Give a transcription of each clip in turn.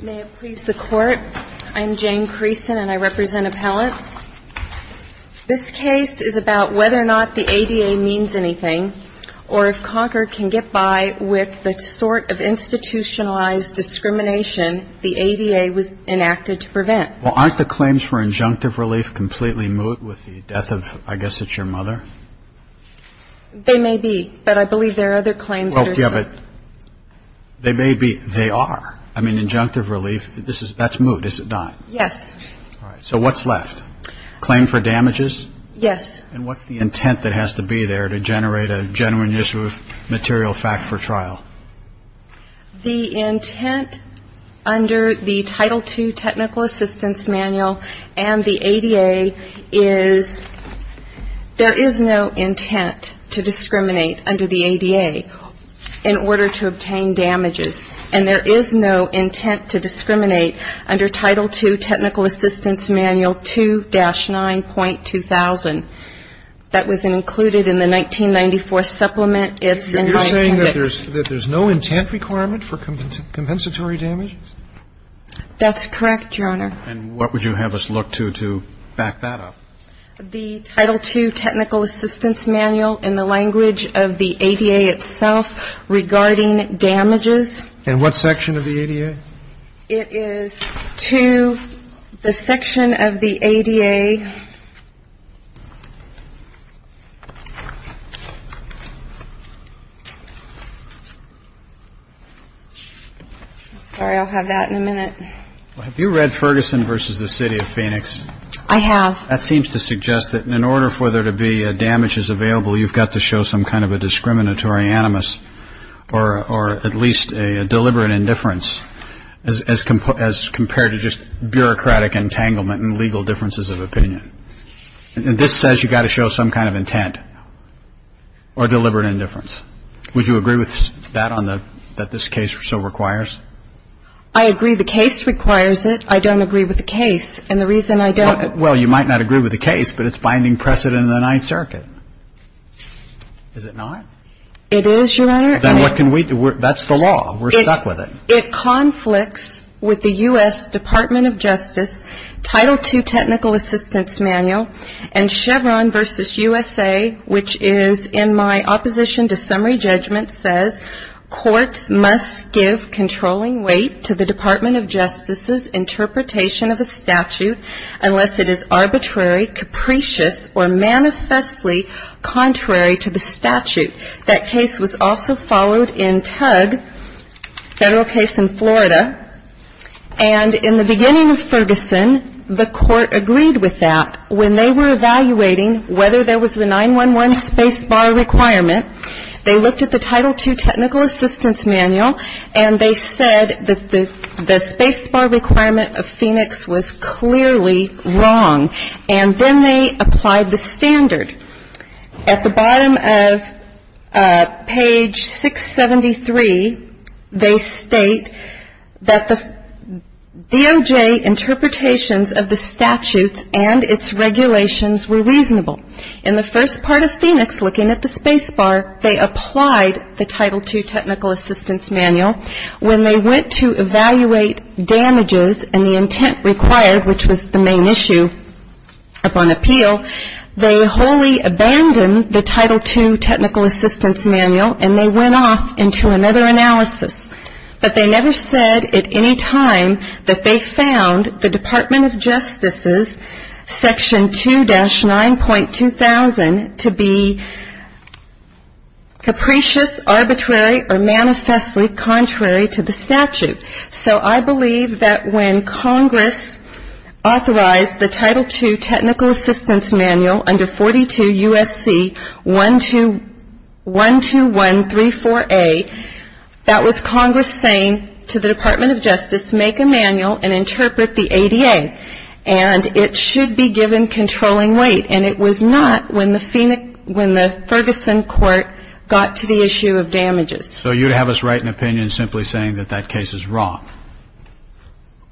May it please the Court, I'm Jane Creason and I represent Appellant. This case is about whether or not the ADA means anything, or if Concord can get by with the sort of institutionalized discrimination the ADA was enacted to prevent. Well, aren't the claims for injunctive relief completely moot with the death of, I guess it's your mother? They may be, but I believe there are other claims that are... Well, yeah, but they may be, they are. I mean, injunctive relief, that's moot, is it not? Yes. All right, so what's left? Claim for damages? Yes. And what's the intent that has to be there to generate a genuine issue of material fact for trial? The intent under the Title II Technical Assistance Manual and the ADA is there is no intent to discriminate under the ADA in order to obtain damages. And there is no intent to discriminate under Title II Technical Assistance Manual 2-9.2000. That was included in the 1994 supplement. It's in my appendix. You're saying that there's no intent requirement for compensatory damages? That's correct, Your Honor. And what would you have us look to to back that up? The Title II Technical Assistance Manual in the language of the ADA itself regarding damages. And what section of the ADA? It is to the section of the ADA. Sorry, I'll have that in a minute. Have you read Ferguson v. The City of Phoenix? I have. That seems to suggest that in order for there to be damages available, you've got to show some kind of a discriminatory animus or at least a deliberate indifference as compared to just bureaucratic entanglement and legal differences of opinion. And this says you've got to show some kind of intent or deliberate indifference. Would you agree with that that this case so requires? I agree the case requires it. I don't agree with the case. Well, you might not agree with the case, but it's binding precedent in the Ninth Circuit. Is it not? It is, Your Honor. Then what can we do? That's the law. We're stuck with it. It conflicts with the U.S. Department of Justice Title II Technical Assistance Manual and Chevron v. USA, which is in my opposition to summary judgment, says courts must give controlling weight to the Department of Justice's interpretation of a statute unless it is arbitrary, capricious, or manifestly contrary to the statute. That case was also followed in Tug, a federal case in Florida. And in the beginning of Ferguson, the court agreed with that. When they were evaluating whether there was the 911 space bar requirement, they looked at the Title II Technical Assistance Manual, and they said that the space bar requirement of Phoenix was clearly wrong. And then they applied the standard. At the bottom of page 673, they state that the DOJ interpretations of the statutes and its regulations were reasonable. In the first part of Phoenix, looking at the space bar, they applied the Title II Technical Assistance Manual. When they went to evaluate damages and the intent required, which was the main issue upon appeal, they wholly abandoned the Title II Technical Assistance Manual, and they went off into another analysis. But they never said at any time that they found the Department of Justice's Section 2-9.2000 to be capricious, arbitrary, or manifestly contrary to the statute. So I believe that when Congress authorized the Title II Technical Assistance Manual under 42 U.S.C. 12134A, that was Congress saying to the Department of Justice, make a manual and interpret the ADA, and it should be given controlling weight. And it was not when the Ferguson court got to the issue of damages. So you would have us write an opinion simply saying that that case is wrong?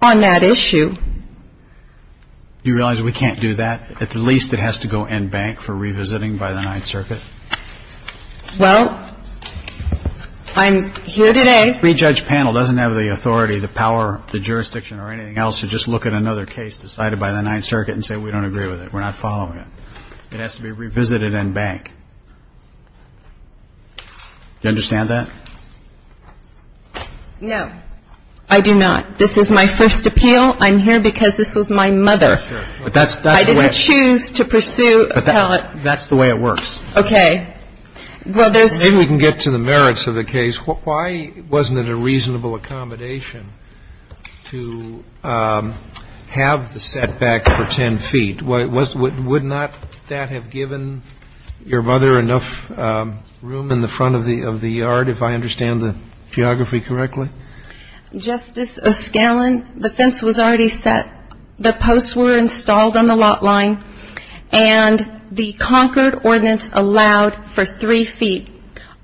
On that issue. Do you realize we can't do that? At least it has to go in bank for revisiting by the Ninth Circuit. Well, I'm here today. A three-judge panel doesn't have the authority, the power, the jurisdiction or anything else to just look at another case decided by the Ninth Circuit and say we don't agree with it, we're not following it. It has to be revisited in bank. Do you understand that? No. I do not. This is my first appeal. I'm here because this was my mother. For sure. I didn't choose to pursue appellate. That's the way it works. Okay. Then we can get to the merits of the case. Why wasn't it a reasonable accommodation to have the setback for 10 feet? Would not that have given your mother enough room in the front of the yard, if I understand the geography correctly? Justice O'Scallion, the fence was already set. The posts were installed on the lot line. And the Concord ordinance allowed for three feet.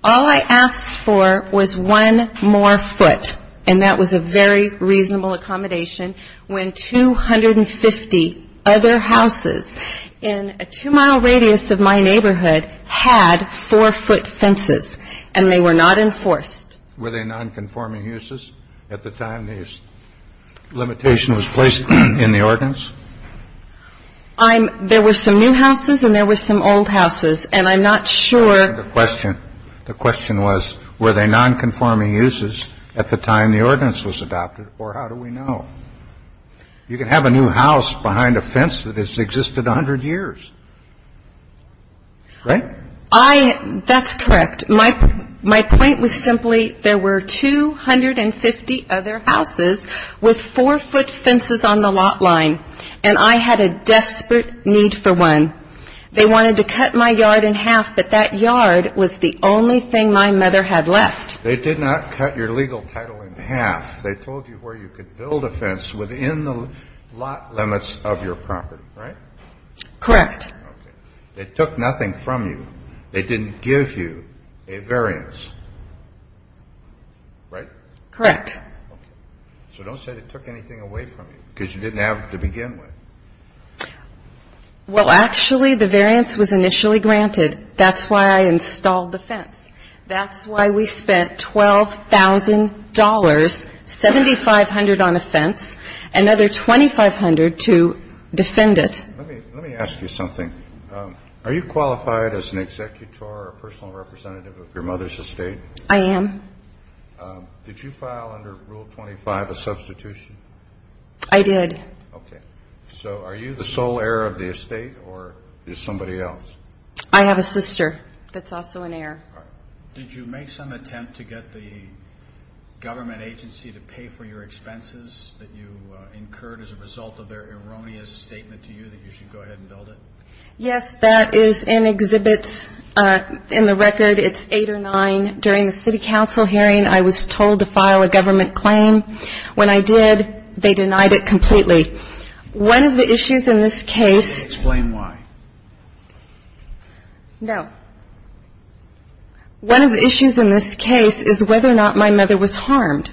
All I asked for was one more foot, and that was a very reasonable accommodation when 250 other houses in a two-mile radius of my neighborhood had four-foot fences, and they were not enforced. Were they nonconforming uses at the time the limitation was placed in the ordinance? There were some new houses and there were some old houses, and I'm not sure. The question was, were they nonconforming uses at the time the ordinance was adopted, or how do we know? You can have a new house behind a fence that has existed 100 years. Right? That's correct. And my point was simply there were 250 other houses with four-foot fences on the lot line, and I had a desperate need for one. They wanted to cut my yard in half, but that yard was the only thing my mother had left. They did not cut your legal title in half. They told you where you could build a fence within the lot limits of your property, right? Correct. Okay. They took nothing from you. They didn't give you a variance, right? Correct. Okay. So don't say they took anything away from you because you didn't have to begin with. Well, actually, the variance was initially granted. That's why I installed the fence. That's why we spent $12,000, $7,500 on a fence, another $2,500 to defend it. Let me ask you something. Are you qualified as an executor or a personal representative of your mother's estate? I am. Did you file under Rule 25 a substitution? I did. Okay. So are you the sole heir of the estate or is somebody else? I have a sister that's also an heir. Did you make some attempt to get the government agency to pay for your expenses that you incurred as a result of their erroneous statement to you that you should go ahead and build it? Yes, that is in exhibits. In the record, it's 8 or 9. During the city council hearing, I was told to file a government claim. When I did, they denied it completely. One of the issues in this case. Explain why. No. One of the issues in this case is whether or not my mother was harmed.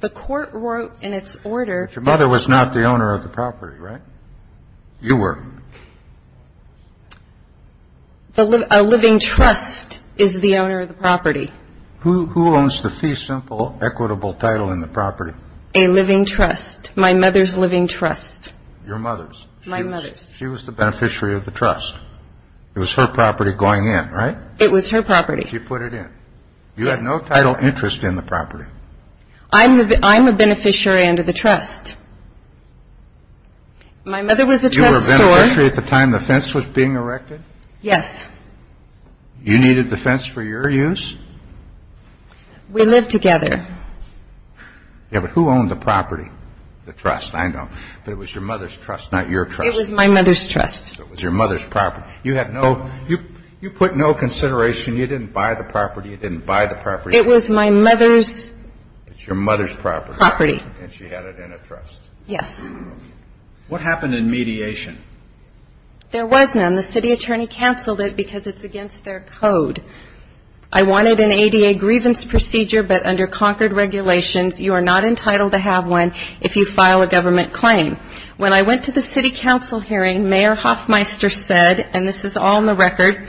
The court wrote in its order. Your mother was not the owner of the property, right? You were. A living trust is the owner of the property. Who owns the fee simple equitable title in the property? A living trust. My mother's living trust. Your mother's. My mother's. She was the beneficiary of the trust. It was her property going in, right? It was her property. She put it in. You had no title interest in the property. I'm a beneficiary under the trust. My mother was a trust store. You were a beneficiary at the time the fence was being erected? Yes. You needed the fence for your use? We lived together. Yeah, but who owned the property? The trust, I know. But it was your mother's trust, not your trust. It was my mother's trust. It was your mother's property. You have no you put no consideration. You didn't buy the property. You didn't buy the property. It was my mother's. It's your mother's property. Property. And she had it in a trust. Yes. What happened in mediation? There was none. The city attorney canceled it because it's against their code. I wanted an ADA grievance procedure, but under Concord regulations, you are not entitled to have one if you file a government claim. When I went to the city council hearing, Mayor Hoffmeister said, and this is all in the record,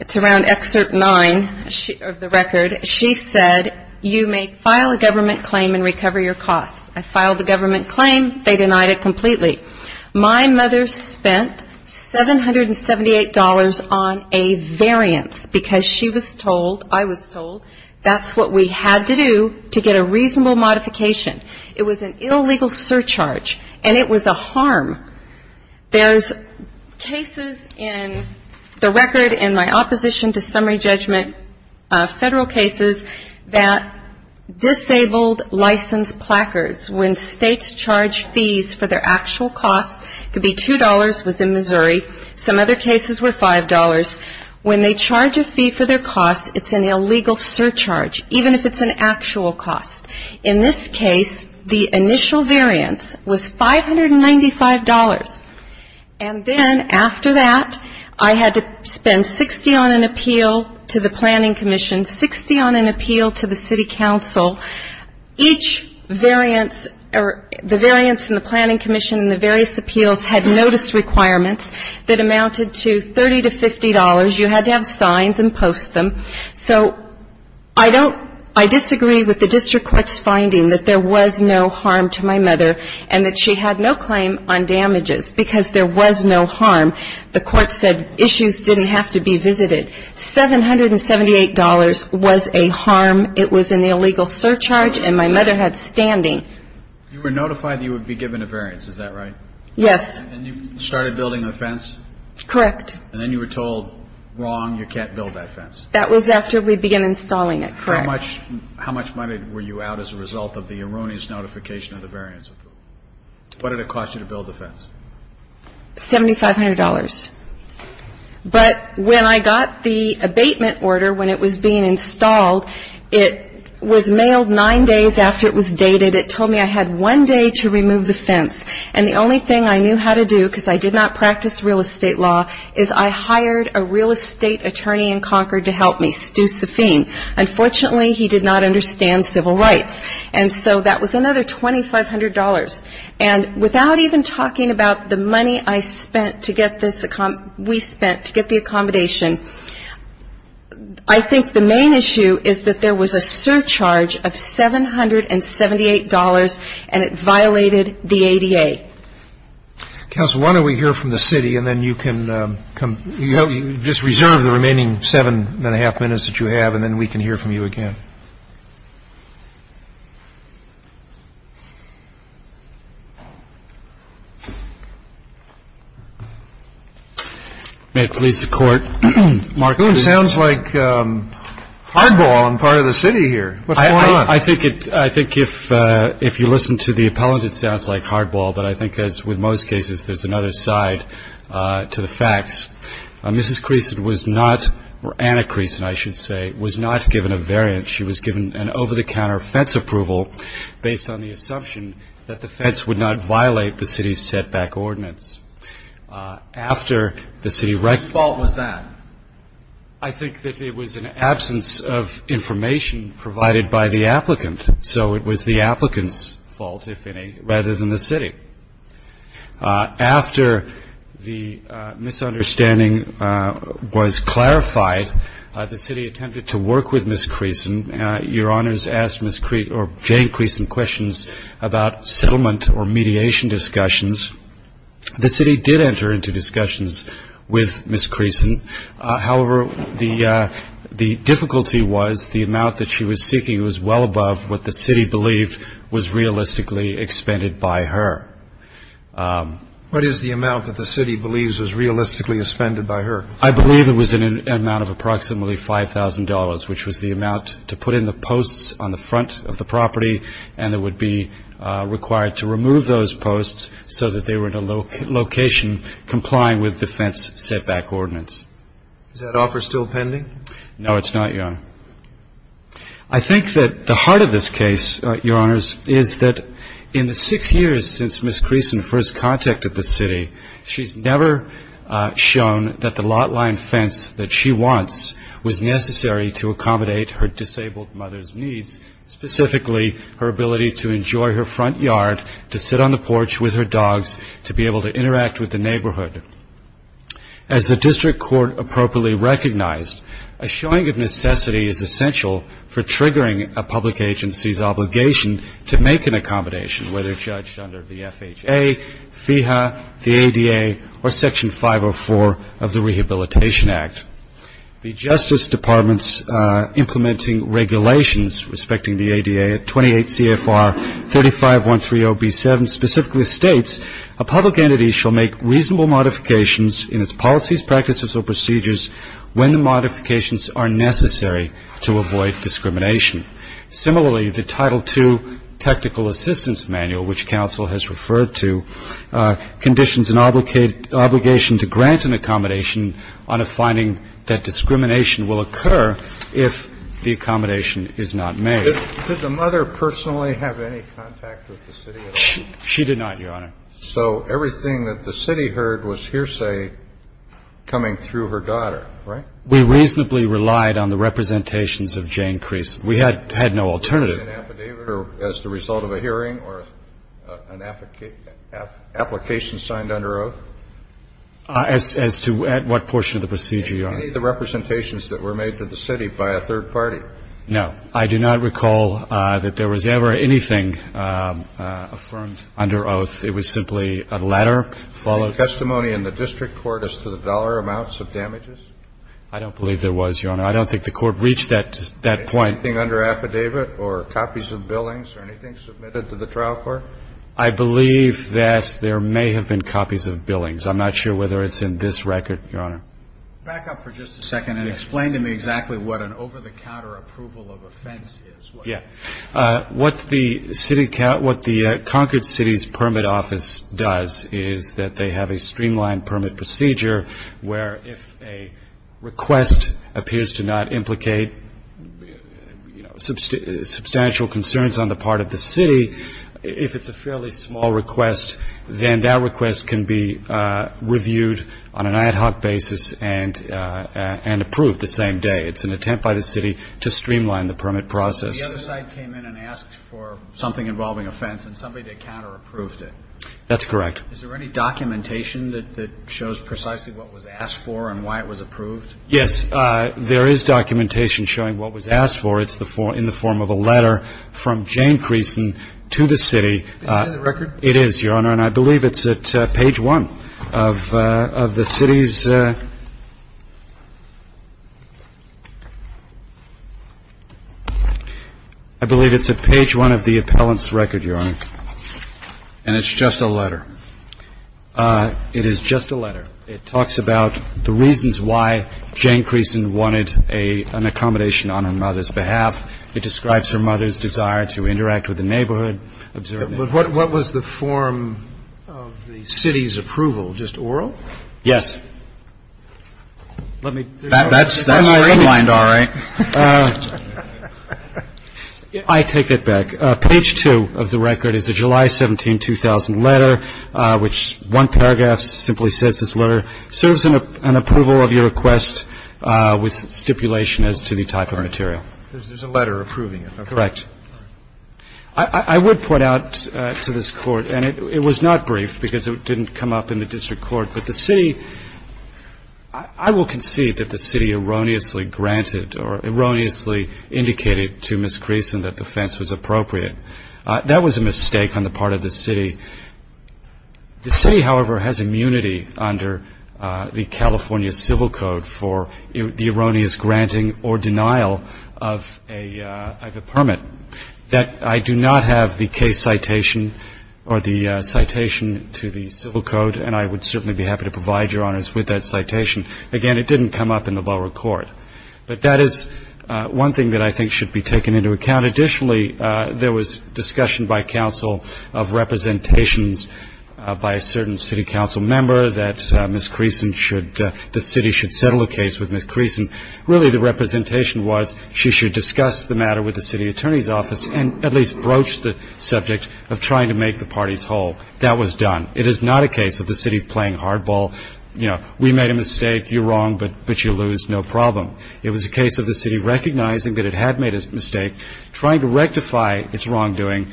it's around Excerpt 9 of the record, she said, you may file a government claim and recover your costs. I filed a government claim. They denied it completely. My mother spent $778 on a variance because she was told, I was told, that's what we had to do to get a reasonable modification. It was an illegal surcharge, and it was a harm. There's cases in the record in my opposition to summary judgment federal cases that disabled license placards when states charge fees for their actual costs could be $2 within Missouri. Some other cases were $5. When they charge a fee for their costs, it's an illegal surcharge, even if it's an actual cost. In this case, the initial variance was $595, and then after that I had to spend $60 on an appeal to the planning commission, $60 on an appeal to the city council. Each variance or the variance in the planning commission and the various appeals had notice requirements that amounted to $30 to $50. You had to have signs and post them. So I don't, I disagree with the district court's finding that there was no harm to my mother and that she had no claim on damages because there was no harm. The court said issues didn't have to be visited. $778 was a harm. It was an illegal surcharge, and my mother had standing. You were notified that you would be given a variance. Is that right? Yes. And you started building a fence? Correct. And then you were told, wrong, you can't build that fence. That was after we began installing it, correct. How much money were you out as a result of the erroneous notification of the variance? What did it cost you to build the fence? $7,500. But when I got the abatement order, when it was being installed, it was mailed nine days after it was dated. It told me I had one day to remove the fence, and the only thing I knew how to do because I did not practice real estate law is I hired a real estate attorney in Concord to help me, Stu Safin. Unfortunately, he did not understand civil rights. And so that was another $2,500. And without even talking about the money I spent to get this, we spent to get the accommodation, I think the main issue is that there was a surcharge of $778, and it violated the ADA. Counsel, why don't we hear from the city, and then you can just reserve the remaining seven and a half minutes that you have, and then we can hear from you again. May it please the Court. Mark, it sounds like hardball on the part of the city here. What's going on? I think if you listen to the appellant, it sounds like hardball, but I think, as with most cases, there's another side to the facts. Mrs. Creason was not, or Anna Creason, I should say, was not given a variant. She was given an over-the-counter fence approval based on the assumption that the fence would not violate the city's setback ordinance. After the city recognized that. Whose fault was that? I think that it was an absence of information provided by the applicant, so it was the applicant's fault, if any, rather than the city. After the misunderstanding was clarified, the city attempted to work with Mrs. Creason. Your Honors asked Jane Creason questions about settlement or mediation discussions. The city did enter into discussions with Mrs. Creason. However, the difficulty was the amount that she was seeking was well above what the city believed was realistically expended by her. What is the amount that the city believes was realistically expended by her? I believe it was an amount of approximately $5,000, which was the amount to put in the posts on the front of the property, and that would be required to remove those posts so that they were in a location complying with the fence setback ordinance. Is that offer still pending? No, it's not, Your Honor. I think that the heart of this case, Your Honors, is that in the six years since Mrs. Creason first contacted the city, she's never shown that the lot line fence that she wants was necessary to accommodate her disabled mother's needs, specifically her ability to enjoy her front yard, to sit on the porch with her dogs, to be able to interact with the neighborhood. As the district court appropriately recognized, a showing of necessity is essential for triggering a public agency's obligation to make an accommodation, whether judged under the FHA, FEHA, the ADA, or Section 504 of the Rehabilitation Act. The Justice Department's implementing regulations respecting the ADA, 28 CFR 35130B7, specifically states a public entity shall make reasonable modifications in its policies, practices, or procedures when the modifications are necessary to avoid discrimination. Similarly, the Title II Technical Assistance Manual, which counsel has referred to, conditions an obligation to grant an accommodation on a finding that discrimination will occur if the accommodation is not made. Did the mother personally have any contact with the city at all? She did not, Your Honor. So everything that the city heard was hearsay coming through her daughter, right? We reasonably relied on the representations of Jane Creason. We had no alternative. Was there an affidavit as the result of a hearing or an application signed under oath? As to what portion of the procedure, Your Honor? Any of the representations that were made to the city by a third party. No. I do not recall that there was ever anything affirmed under oath. It was simply a letter followed. Any testimony in the district court as to the dollar amounts of damages? I don't believe there was, Your Honor. I don't think the court reached that point. Anything under affidavit or copies of billings or anything submitted to the trial court? I believe that there may have been copies of billings. I'm not sure whether it's in this record, Your Honor. Back up for just a second and explain to me exactly what an over-the-counter approval of offense is. Yeah. What the conquered city's permit office does is that they have a streamlined permit procedure where if a request appears to not implicate substantial concerns on the part of the city, if it's a fairly small request, then that request can be reviewed on an ad hoc basis and approved the same day. It's an attempt by the city to streamline the permit process. The other side came in and asked for something involving offense and somebody that counterapproved it. That's correct. Is there any documentation that shows precisely what was asked for and why it was approved? Yes. There is documentation showing what was asked for. It's in the form of a letter from Jane Creason to the city. Is that in the record? It is, Your Honor. And I believe it's at page 1 of the city's – I believe it's at page 1 of the appellant's record, Your Honor. And it's just a letter? It is just a letter. It talks about the reasons why Jane Creason wanted an accommodation on her mother's behalf. It describes her mother's desire to interact with the neighborhood. But what was the form of the city's approval, just oral? Yes. That's streamlined all right. I take it back. Page 2 of the record is a July 17, 2000 letter, which one paragraph simply says this letter serves an approval of your request with stipulation as to the type of material. There's a letter approving it. Correct. I would point out to this Court, and it was not brief because it didn't come up in the district court, but the city – I will concede that the city erroneously granted or erroneously indicated to Ms. Creason that the fence was appropriate. That was a mistake on the part of the city. The city, however, has immunity under the California Civil Code for the erroneous granting or denial of a permit. I do not have the case citation or the citation to the Civil Code, and I would certainly be happy to provide Your Honors with that citation. Again, it didn't come up in the lower court. But that is one thing that I think should be taken into account. Additionally, there was discussion by counsel of representations by a certain city council member that Ms. Creason should – that the city should settle a case with Ms. Creason. Really, the representation was she should discuss the matter with the city attorney's office and at least broach the subject of trying to make the parties whole. That was done. It is not a case of the city playing hardball. You know, we made a mistake. You're wrong, but you lose. No problem. It was a case of the city recognizing that it had made a mistake, trying to rectify its wrongdoing,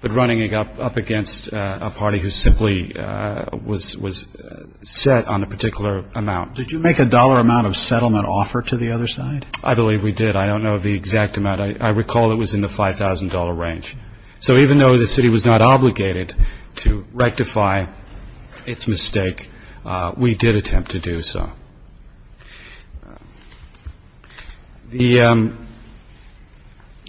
but running up against a party who simply was set on a particular amount. Did you make a dollar amount of settlement offer to the other side? I believe we did. I don't know the exact amount. I recall it was in the $5,000 range. So even though the city was not obligated to rectify its mistake, we did attempt to do so.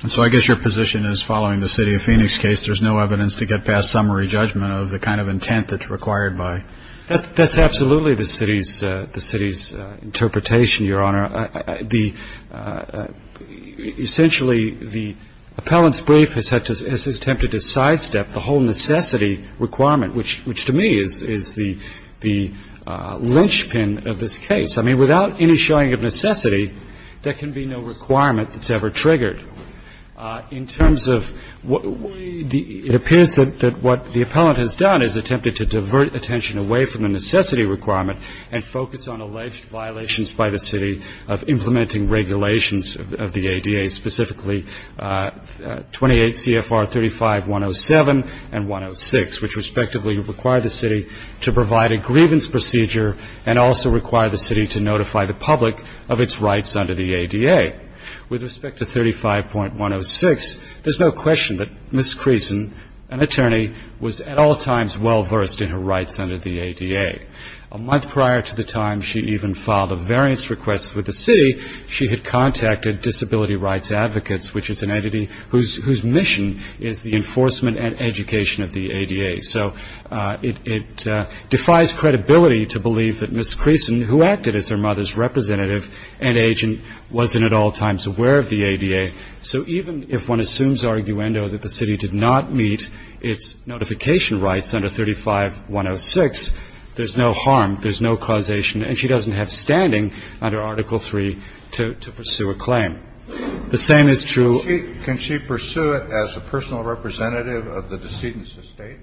So I guess your position is following the City of Phoenix case, there's no evidence to get past summary judgment of the kind of intent that's required by – That's absolutely the city's interpretation, Your Honor. Essentially, the appellant's brief has attempted to sidestep the whole necessity requirement, which to me is the linchpin of this case. I mean, without any showing of necessity, there can be no requirement that's ever triggered. In terms of – it appears that what the appellant has done is attempted to divert attention away from the necessity requirement and focus on alleged violations by the city of implementing regulations of the ADA, specifically 28 CFR 35107 and 106, which respectively require the city to provide a grievance procedure and also require the city to notify the public of its rights under the ADA. With respect to 35.106, there's no question that Ms. Creason, an attorney, was at all times well-versed in her rights under the ADA. A month prior to the time she even filed a variance request with the city, she had contacted disability rights advocates, which is an entity whose mission is the enforcement and education of the ADA. So it defies credibility to believe that Ms. Creason, who acted as her mother's representative and agent, wasn't at all times aware of the ADA. So even if one assumes arguendo that the city did not meet its notification rights under 35.106, there's no harm, there's no causation, and she doesn't have standing under Article III to pursue a claim. The same is true – Kennedy. Can she pursue it as a personal representative of the decedent's estate?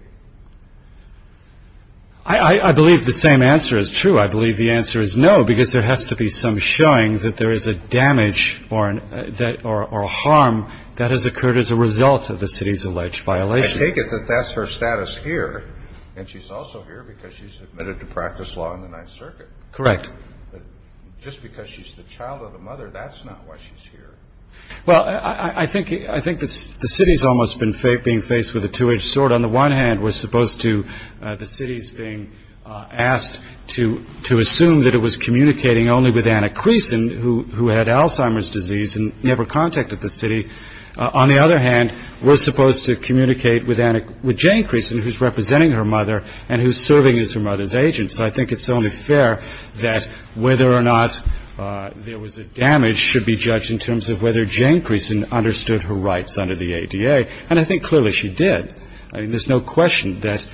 I believe the same answer is true. I believe the answer is no, because there has to be some showing that there is a damage or a harm that has occurred as a result of the city's alleged violation. I take it that that's her status here, and she's also here because she's admitted to practice law in the Ninth Circuit. Correct. But just because she's the child of the mother, that's not why she's here. Well, I think the city's almost being faced with a two-edged sword. On the one hand, we're supposed to – the city's being asked to assume that it was communicating only with Anna Creason, who had Alzheimer's disease and never contacted the city. On the other hand, we're supposed to communicate with Jane Creason, who's representing her mother and who's serving as her mother's agent. So I think it's only fair that whether or not there was a damage should be judged in terms of whether Jane Creason understood her rights under the ADA. And I think clearly she did. I mean, there's no question that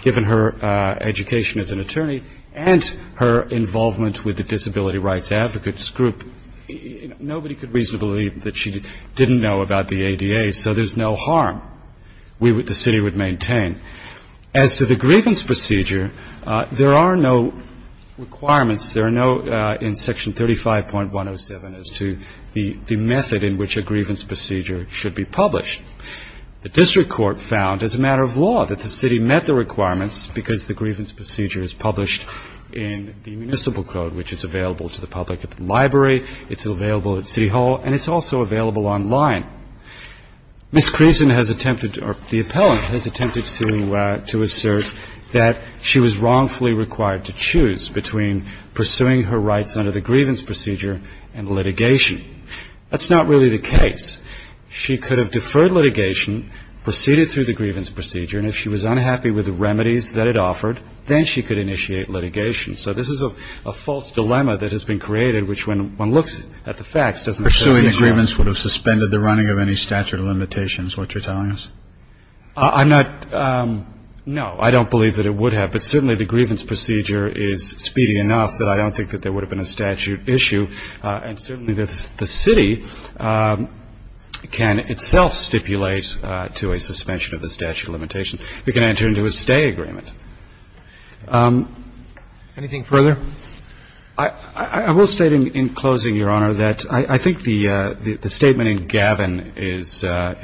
given her education as an attorney and her involvement with the Disability Rights Advocates Group, nobody could reasonably believe that she didn't know about the ADA. So there's no harm the city would maintain. As to the grievance procedure, there are no requirements. There are no – in Section 35.107 as to the method in which a grievance procedure should be published. The district court found as a matter of law that the city met the requirements because the grievance procedure is published in the municipal code, which is available to the public at the library. It's available at City Hall, and it's also available online. Ms. Creason has attempted – or the appellant has attempted to assert that she was wrongfully required to choose between pursuing her rights under the grievance procedure and litigation. That's not really the case. She could have deferred litigation, proceeded through the grievance procedure, and if she was unhappy with the remedies that it offered, then she could initiate litigation. So this is a false dilemma that has been created, which when one looks at the facts doesn't – Pursuing agreements would have suspended the running of any statute of limitations, what you're telling us? I'm not – no, I don't believe that it would have. But certainly the grievance procedure is speedy enough that I don't think that there would have been a statute issue. And certainly the city can itself stipulate to a suspension of the statute of limitations. It can enter into a stay agreement. Anything further? I will state in closing, Your Honor, that I think the statement in Gavin goes to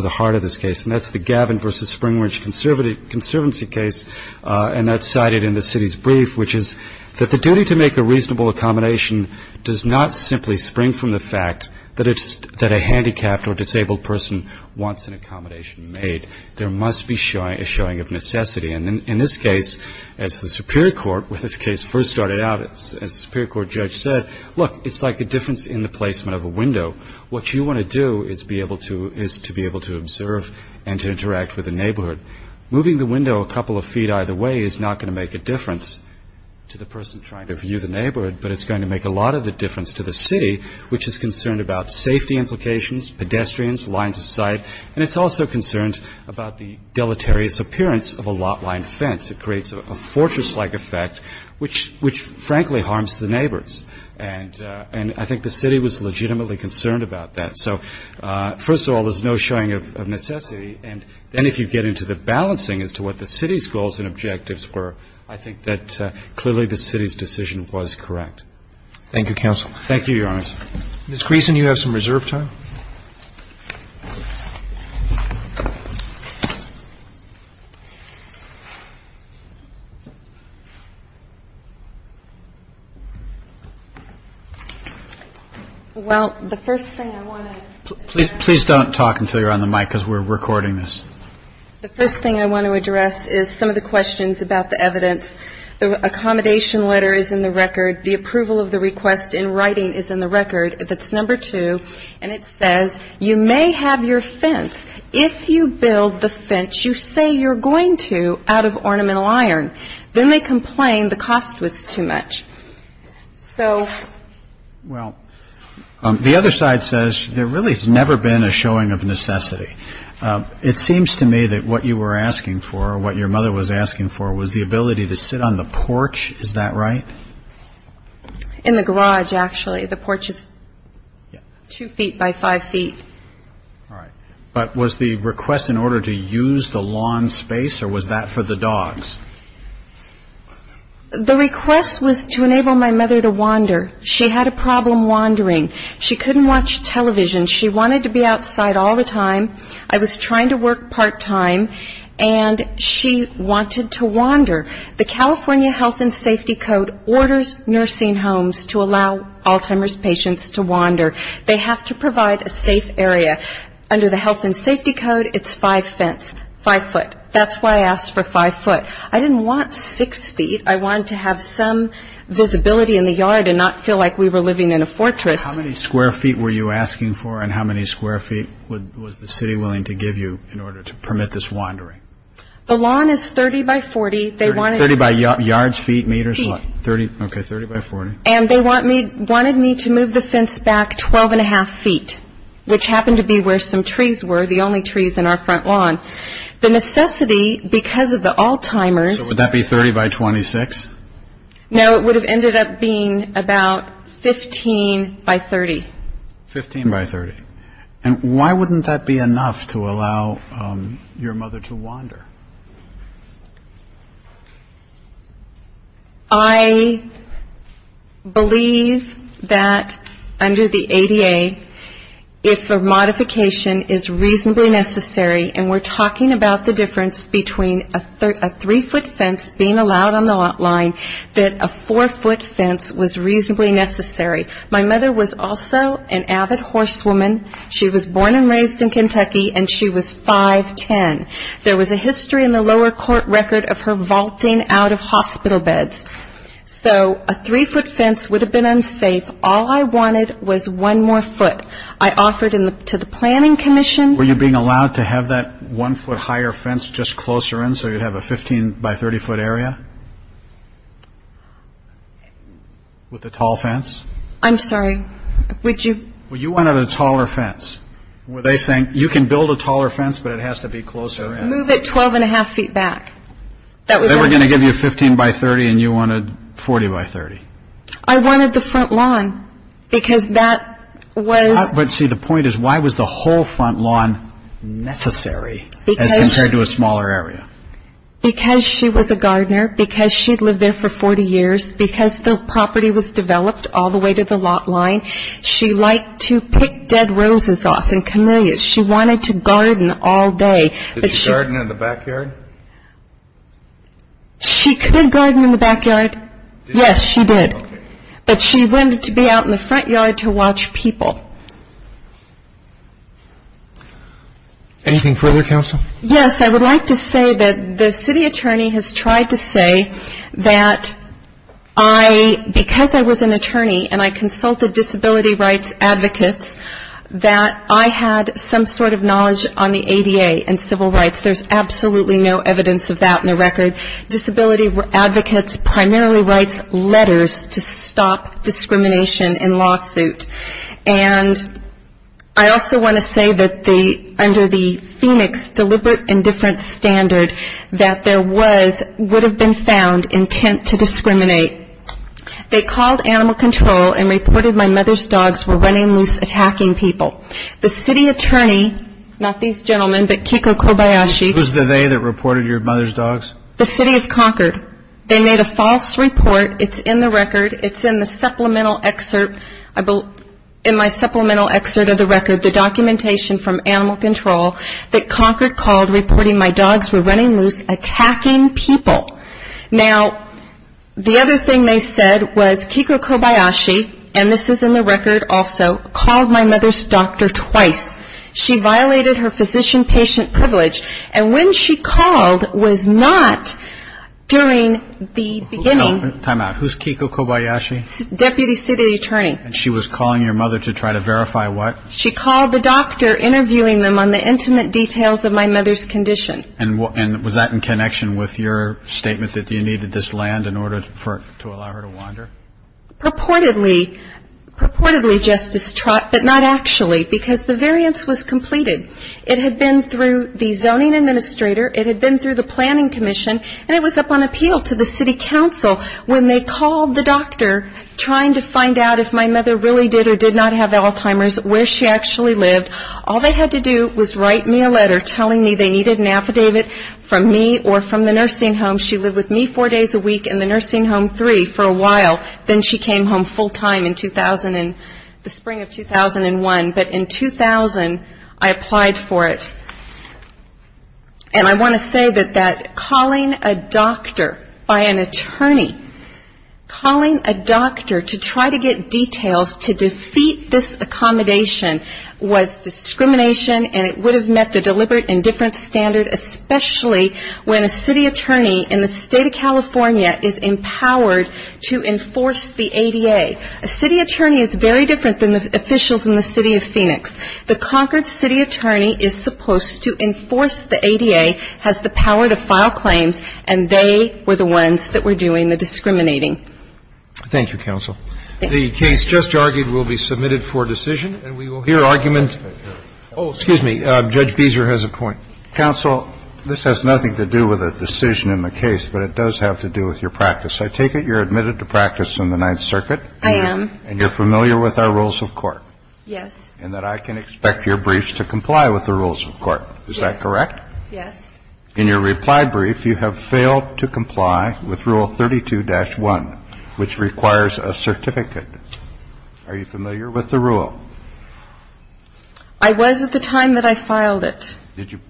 the heart of this case, and that's the Gavin v. Springridge conservancy case, and that's cited in the city's brief, which is that the duty to make a reasonable accommodation does not simply spring from the fact that a handicapped or disabled person wants an accommodation made. There must be a showing of necessity. And in this case, as the Superior Court, when this case first started out, as the Superior Court judge said, look, it's like a difference in the placement of a window. What you want to do is be able to – is to be able to observe and to interact with the neighborhood. Moving the window a couple of feet either way is not going to make a difference to the person trying to view the neighborhood, but it's going to make a lot of a difference to the city, which is concerned about safety implications, pedestrians, lines of sight, and it's also concerned about the deleterious appearance of a lot line fence. It creates a fortress-like effect, which frankly harms the neighbors. And I think the city was legitimately concerned about that. So first of all, there's no showing of necessity. And then if you get into the balancing as to what the city's goals and objectives were, I think that clearly the city's decision was correct. Roberts. Thank you, counsel. Thank you, Your Honor. Ms. Griesen, you have some reserve time. Well, the first thing I want to – Please don't talk until you're on the mic because we're recording this. The first thing I want to address is some of the questions about the evidence. The accommodation letter is in the record. The approval of the request in writing is in the record. That's number two. And it says you may have your fence. If you build the fence, you say you're going to out of ornamental iron. Then they complain the cost was too much. So – Well, the other side says there really has never been a showing of necessity. It seems to me that what you were asking for, what your mother was asking for, was the ability to sit on the porch. Is that right? In the garage, actually. The porch is two feet by five feet. All right. But was the request in order to use the lawn space, or was that for the dogs? The request was to enable my mother to wander. She had a problem wandering. She couldn't watch television. She wanted to be outside all the time. I was trying to work part-time, and she wanted to wander. The California Health and Safety Code orders nursing homes to allow Alzheimer's patients to wander. They have to provide a safe area. Under the Health and Safety Code, it's five foot. That's why I asked for five foot. I didn't want six feet. I wanted to have some visibility in the yard and not feel like we were living in a fortress. How many square feet were you asking for, and how many square feet was the city willing to give you in order to permit this wandering? The lawn is 30 by 40. 30 by yards, feet, meters? Feet. Okay, 30 by 40. And they wanted me to move the fence back 12 1⁄2 feet, which happened to be where some trees were, the only trees in our front lawn. The necessity, because of the Alzheimer's. So would that be 30 by 26? No, it would have ended up being about 15 by 30. 15 by 30. And why wouldn't that be enough to allow your mother to wander? I believe that under the ADA, if a modification is reasonably necessary, and we're talking about the difference between a three-foot fence being allowed on the lawn, that a four-foot fence was reasonably necessary. My mother was also an avid horsewoman. She was born and raised in Kentucky, and she was 5'10". There was a history in the lower court record of her vaulting out of hospital beds. So a three-foot fence would have been unsafe. All I wanted was one more foot. I offered to the planning commission. Were you being allowed to have that one-foot higher fence just closer in, so you'd have a 15 by 30-foot area with a tall fence? I'm sorry. Would you? Well, you wanted a taller fence. Were they saying, you can build a taller fence, but it has to be closer in? Move it 12 1⁄2 feet back. They were going to give you 15 by 30, and you wanted 40 by 30? I wanted the front lawn, because that was... See, the point is, why was the whole front lawn necessary as compared to a smaller area? Because she was a gardener, because she'd lived there for 40 years, because the property was developed all the way to the lot line. She liked to pick dead roses off and camellias. She wanted to garden all day. Did she garden in the backyard? She could garden in the backyard. Yes, she did. But she wanted to be out in the front yard to watch people. Anything further, counsel? Yes, I would like to say that the city attorney has tried to say that I, because I was an attorney and I consulted disability rights advocates, that I had some sort of knowledge on the ADA and civil rights. There's absolutely no evidence of that in the record. Disability advocates primarily writes letters to stop discrimination in lawsuit. And I also want to say that under the Phoenix deliberate indifference standard, that there was, would have been found, intent to discriminate. They called animal control and reported my mother's dogs were running loose attacking people. The city attorney, not these gentlemen, but Kiko Kobayashi... Who's the they that reported your mother's dogs? The city of Concord. They made a false report. It's in the record. It's in the supplemental excerpt, in my supplemental excerpt of the record, the documentation from animal control that Concord called reporting my dogs were running loose attacking people. Now, the other thing they said was Kiko Kobayashi, and this is in the record also, called my mother's doctor twice. She violated her physician patient privilege. And when she called was not during the beginning... Time out. Who's Kiko Kobayashi? Deputy city attorney. And she was calling your mother to try to verify what? She called the doctor interviewing them on the intimate details of my mother's condition. And was that in connection with your statement that you needed this land in order to allow her to wander? Purportedly, just as truck, but not actually, because the variance was completed. It had been through the zoning administrator, it had been through the planning commission, and it was up on appeal to the city council when they called the doctor trying to find out if my mother really did or did not have Alzheimer's, where she actually lived. All they had to do was write me a letter telling me they needed an affidavit from me or from the nursing home. She lived with me four days a week in the nursing home three for a while. Then she came home full time in 2000 and the spring of 2001. But in 2000, I applied for it. And I want to say that calling a doctor by an attorney, calling a doctor to try to get details to defeat this accommodation was discrimination and it would have met the deliberate indifference standard, especially when a city attorney in the state of California is empowered to enforce the ADA. A city attorney is very different than the officials in the city of Phoenix. The Concord city attorney is supposed to enforce the ADA, has the power to file claims, and they were the ones that were doing the discriminating. Thank you, counsel. The case just argued will be submitted for decision, and we will hear argument. Oh, excuse me. Judge Beezer has a point. Counsel, this has nothing to do with a decision in the case, but it does have to do with your practice. I take it you're admitted to practice in the Ninth Circuit. I am. And you're familiar with our rules of court. Yes. And that I can expect your briefs to comply with the rules of court. Is that correct? Yes. In your reply brief, you have failed to comply with Rule 32-1, which requires a certificate. Are you familiar with the rule? I was at the time that I filed it. Did you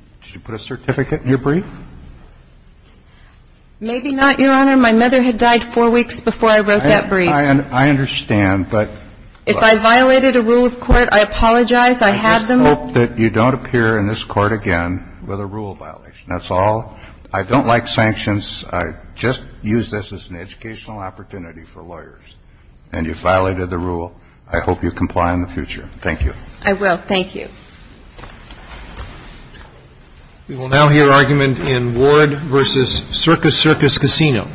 put a certificate in your brief? Maybe not, Your Honor. My mother had died four weeks before I wrote that brief. I understand. If I violated a rule of court, I apologize. I have them. I just hope that you don't appear in this Court again with a rule violation. That's all. I don't like sanctions. I just use this as an educational opportunity for lawyers. And you violated the rule. I hope you comply in the future. Thank you. I will. Thank you. We will now hear argument in Ward v. Circus Circus Casino.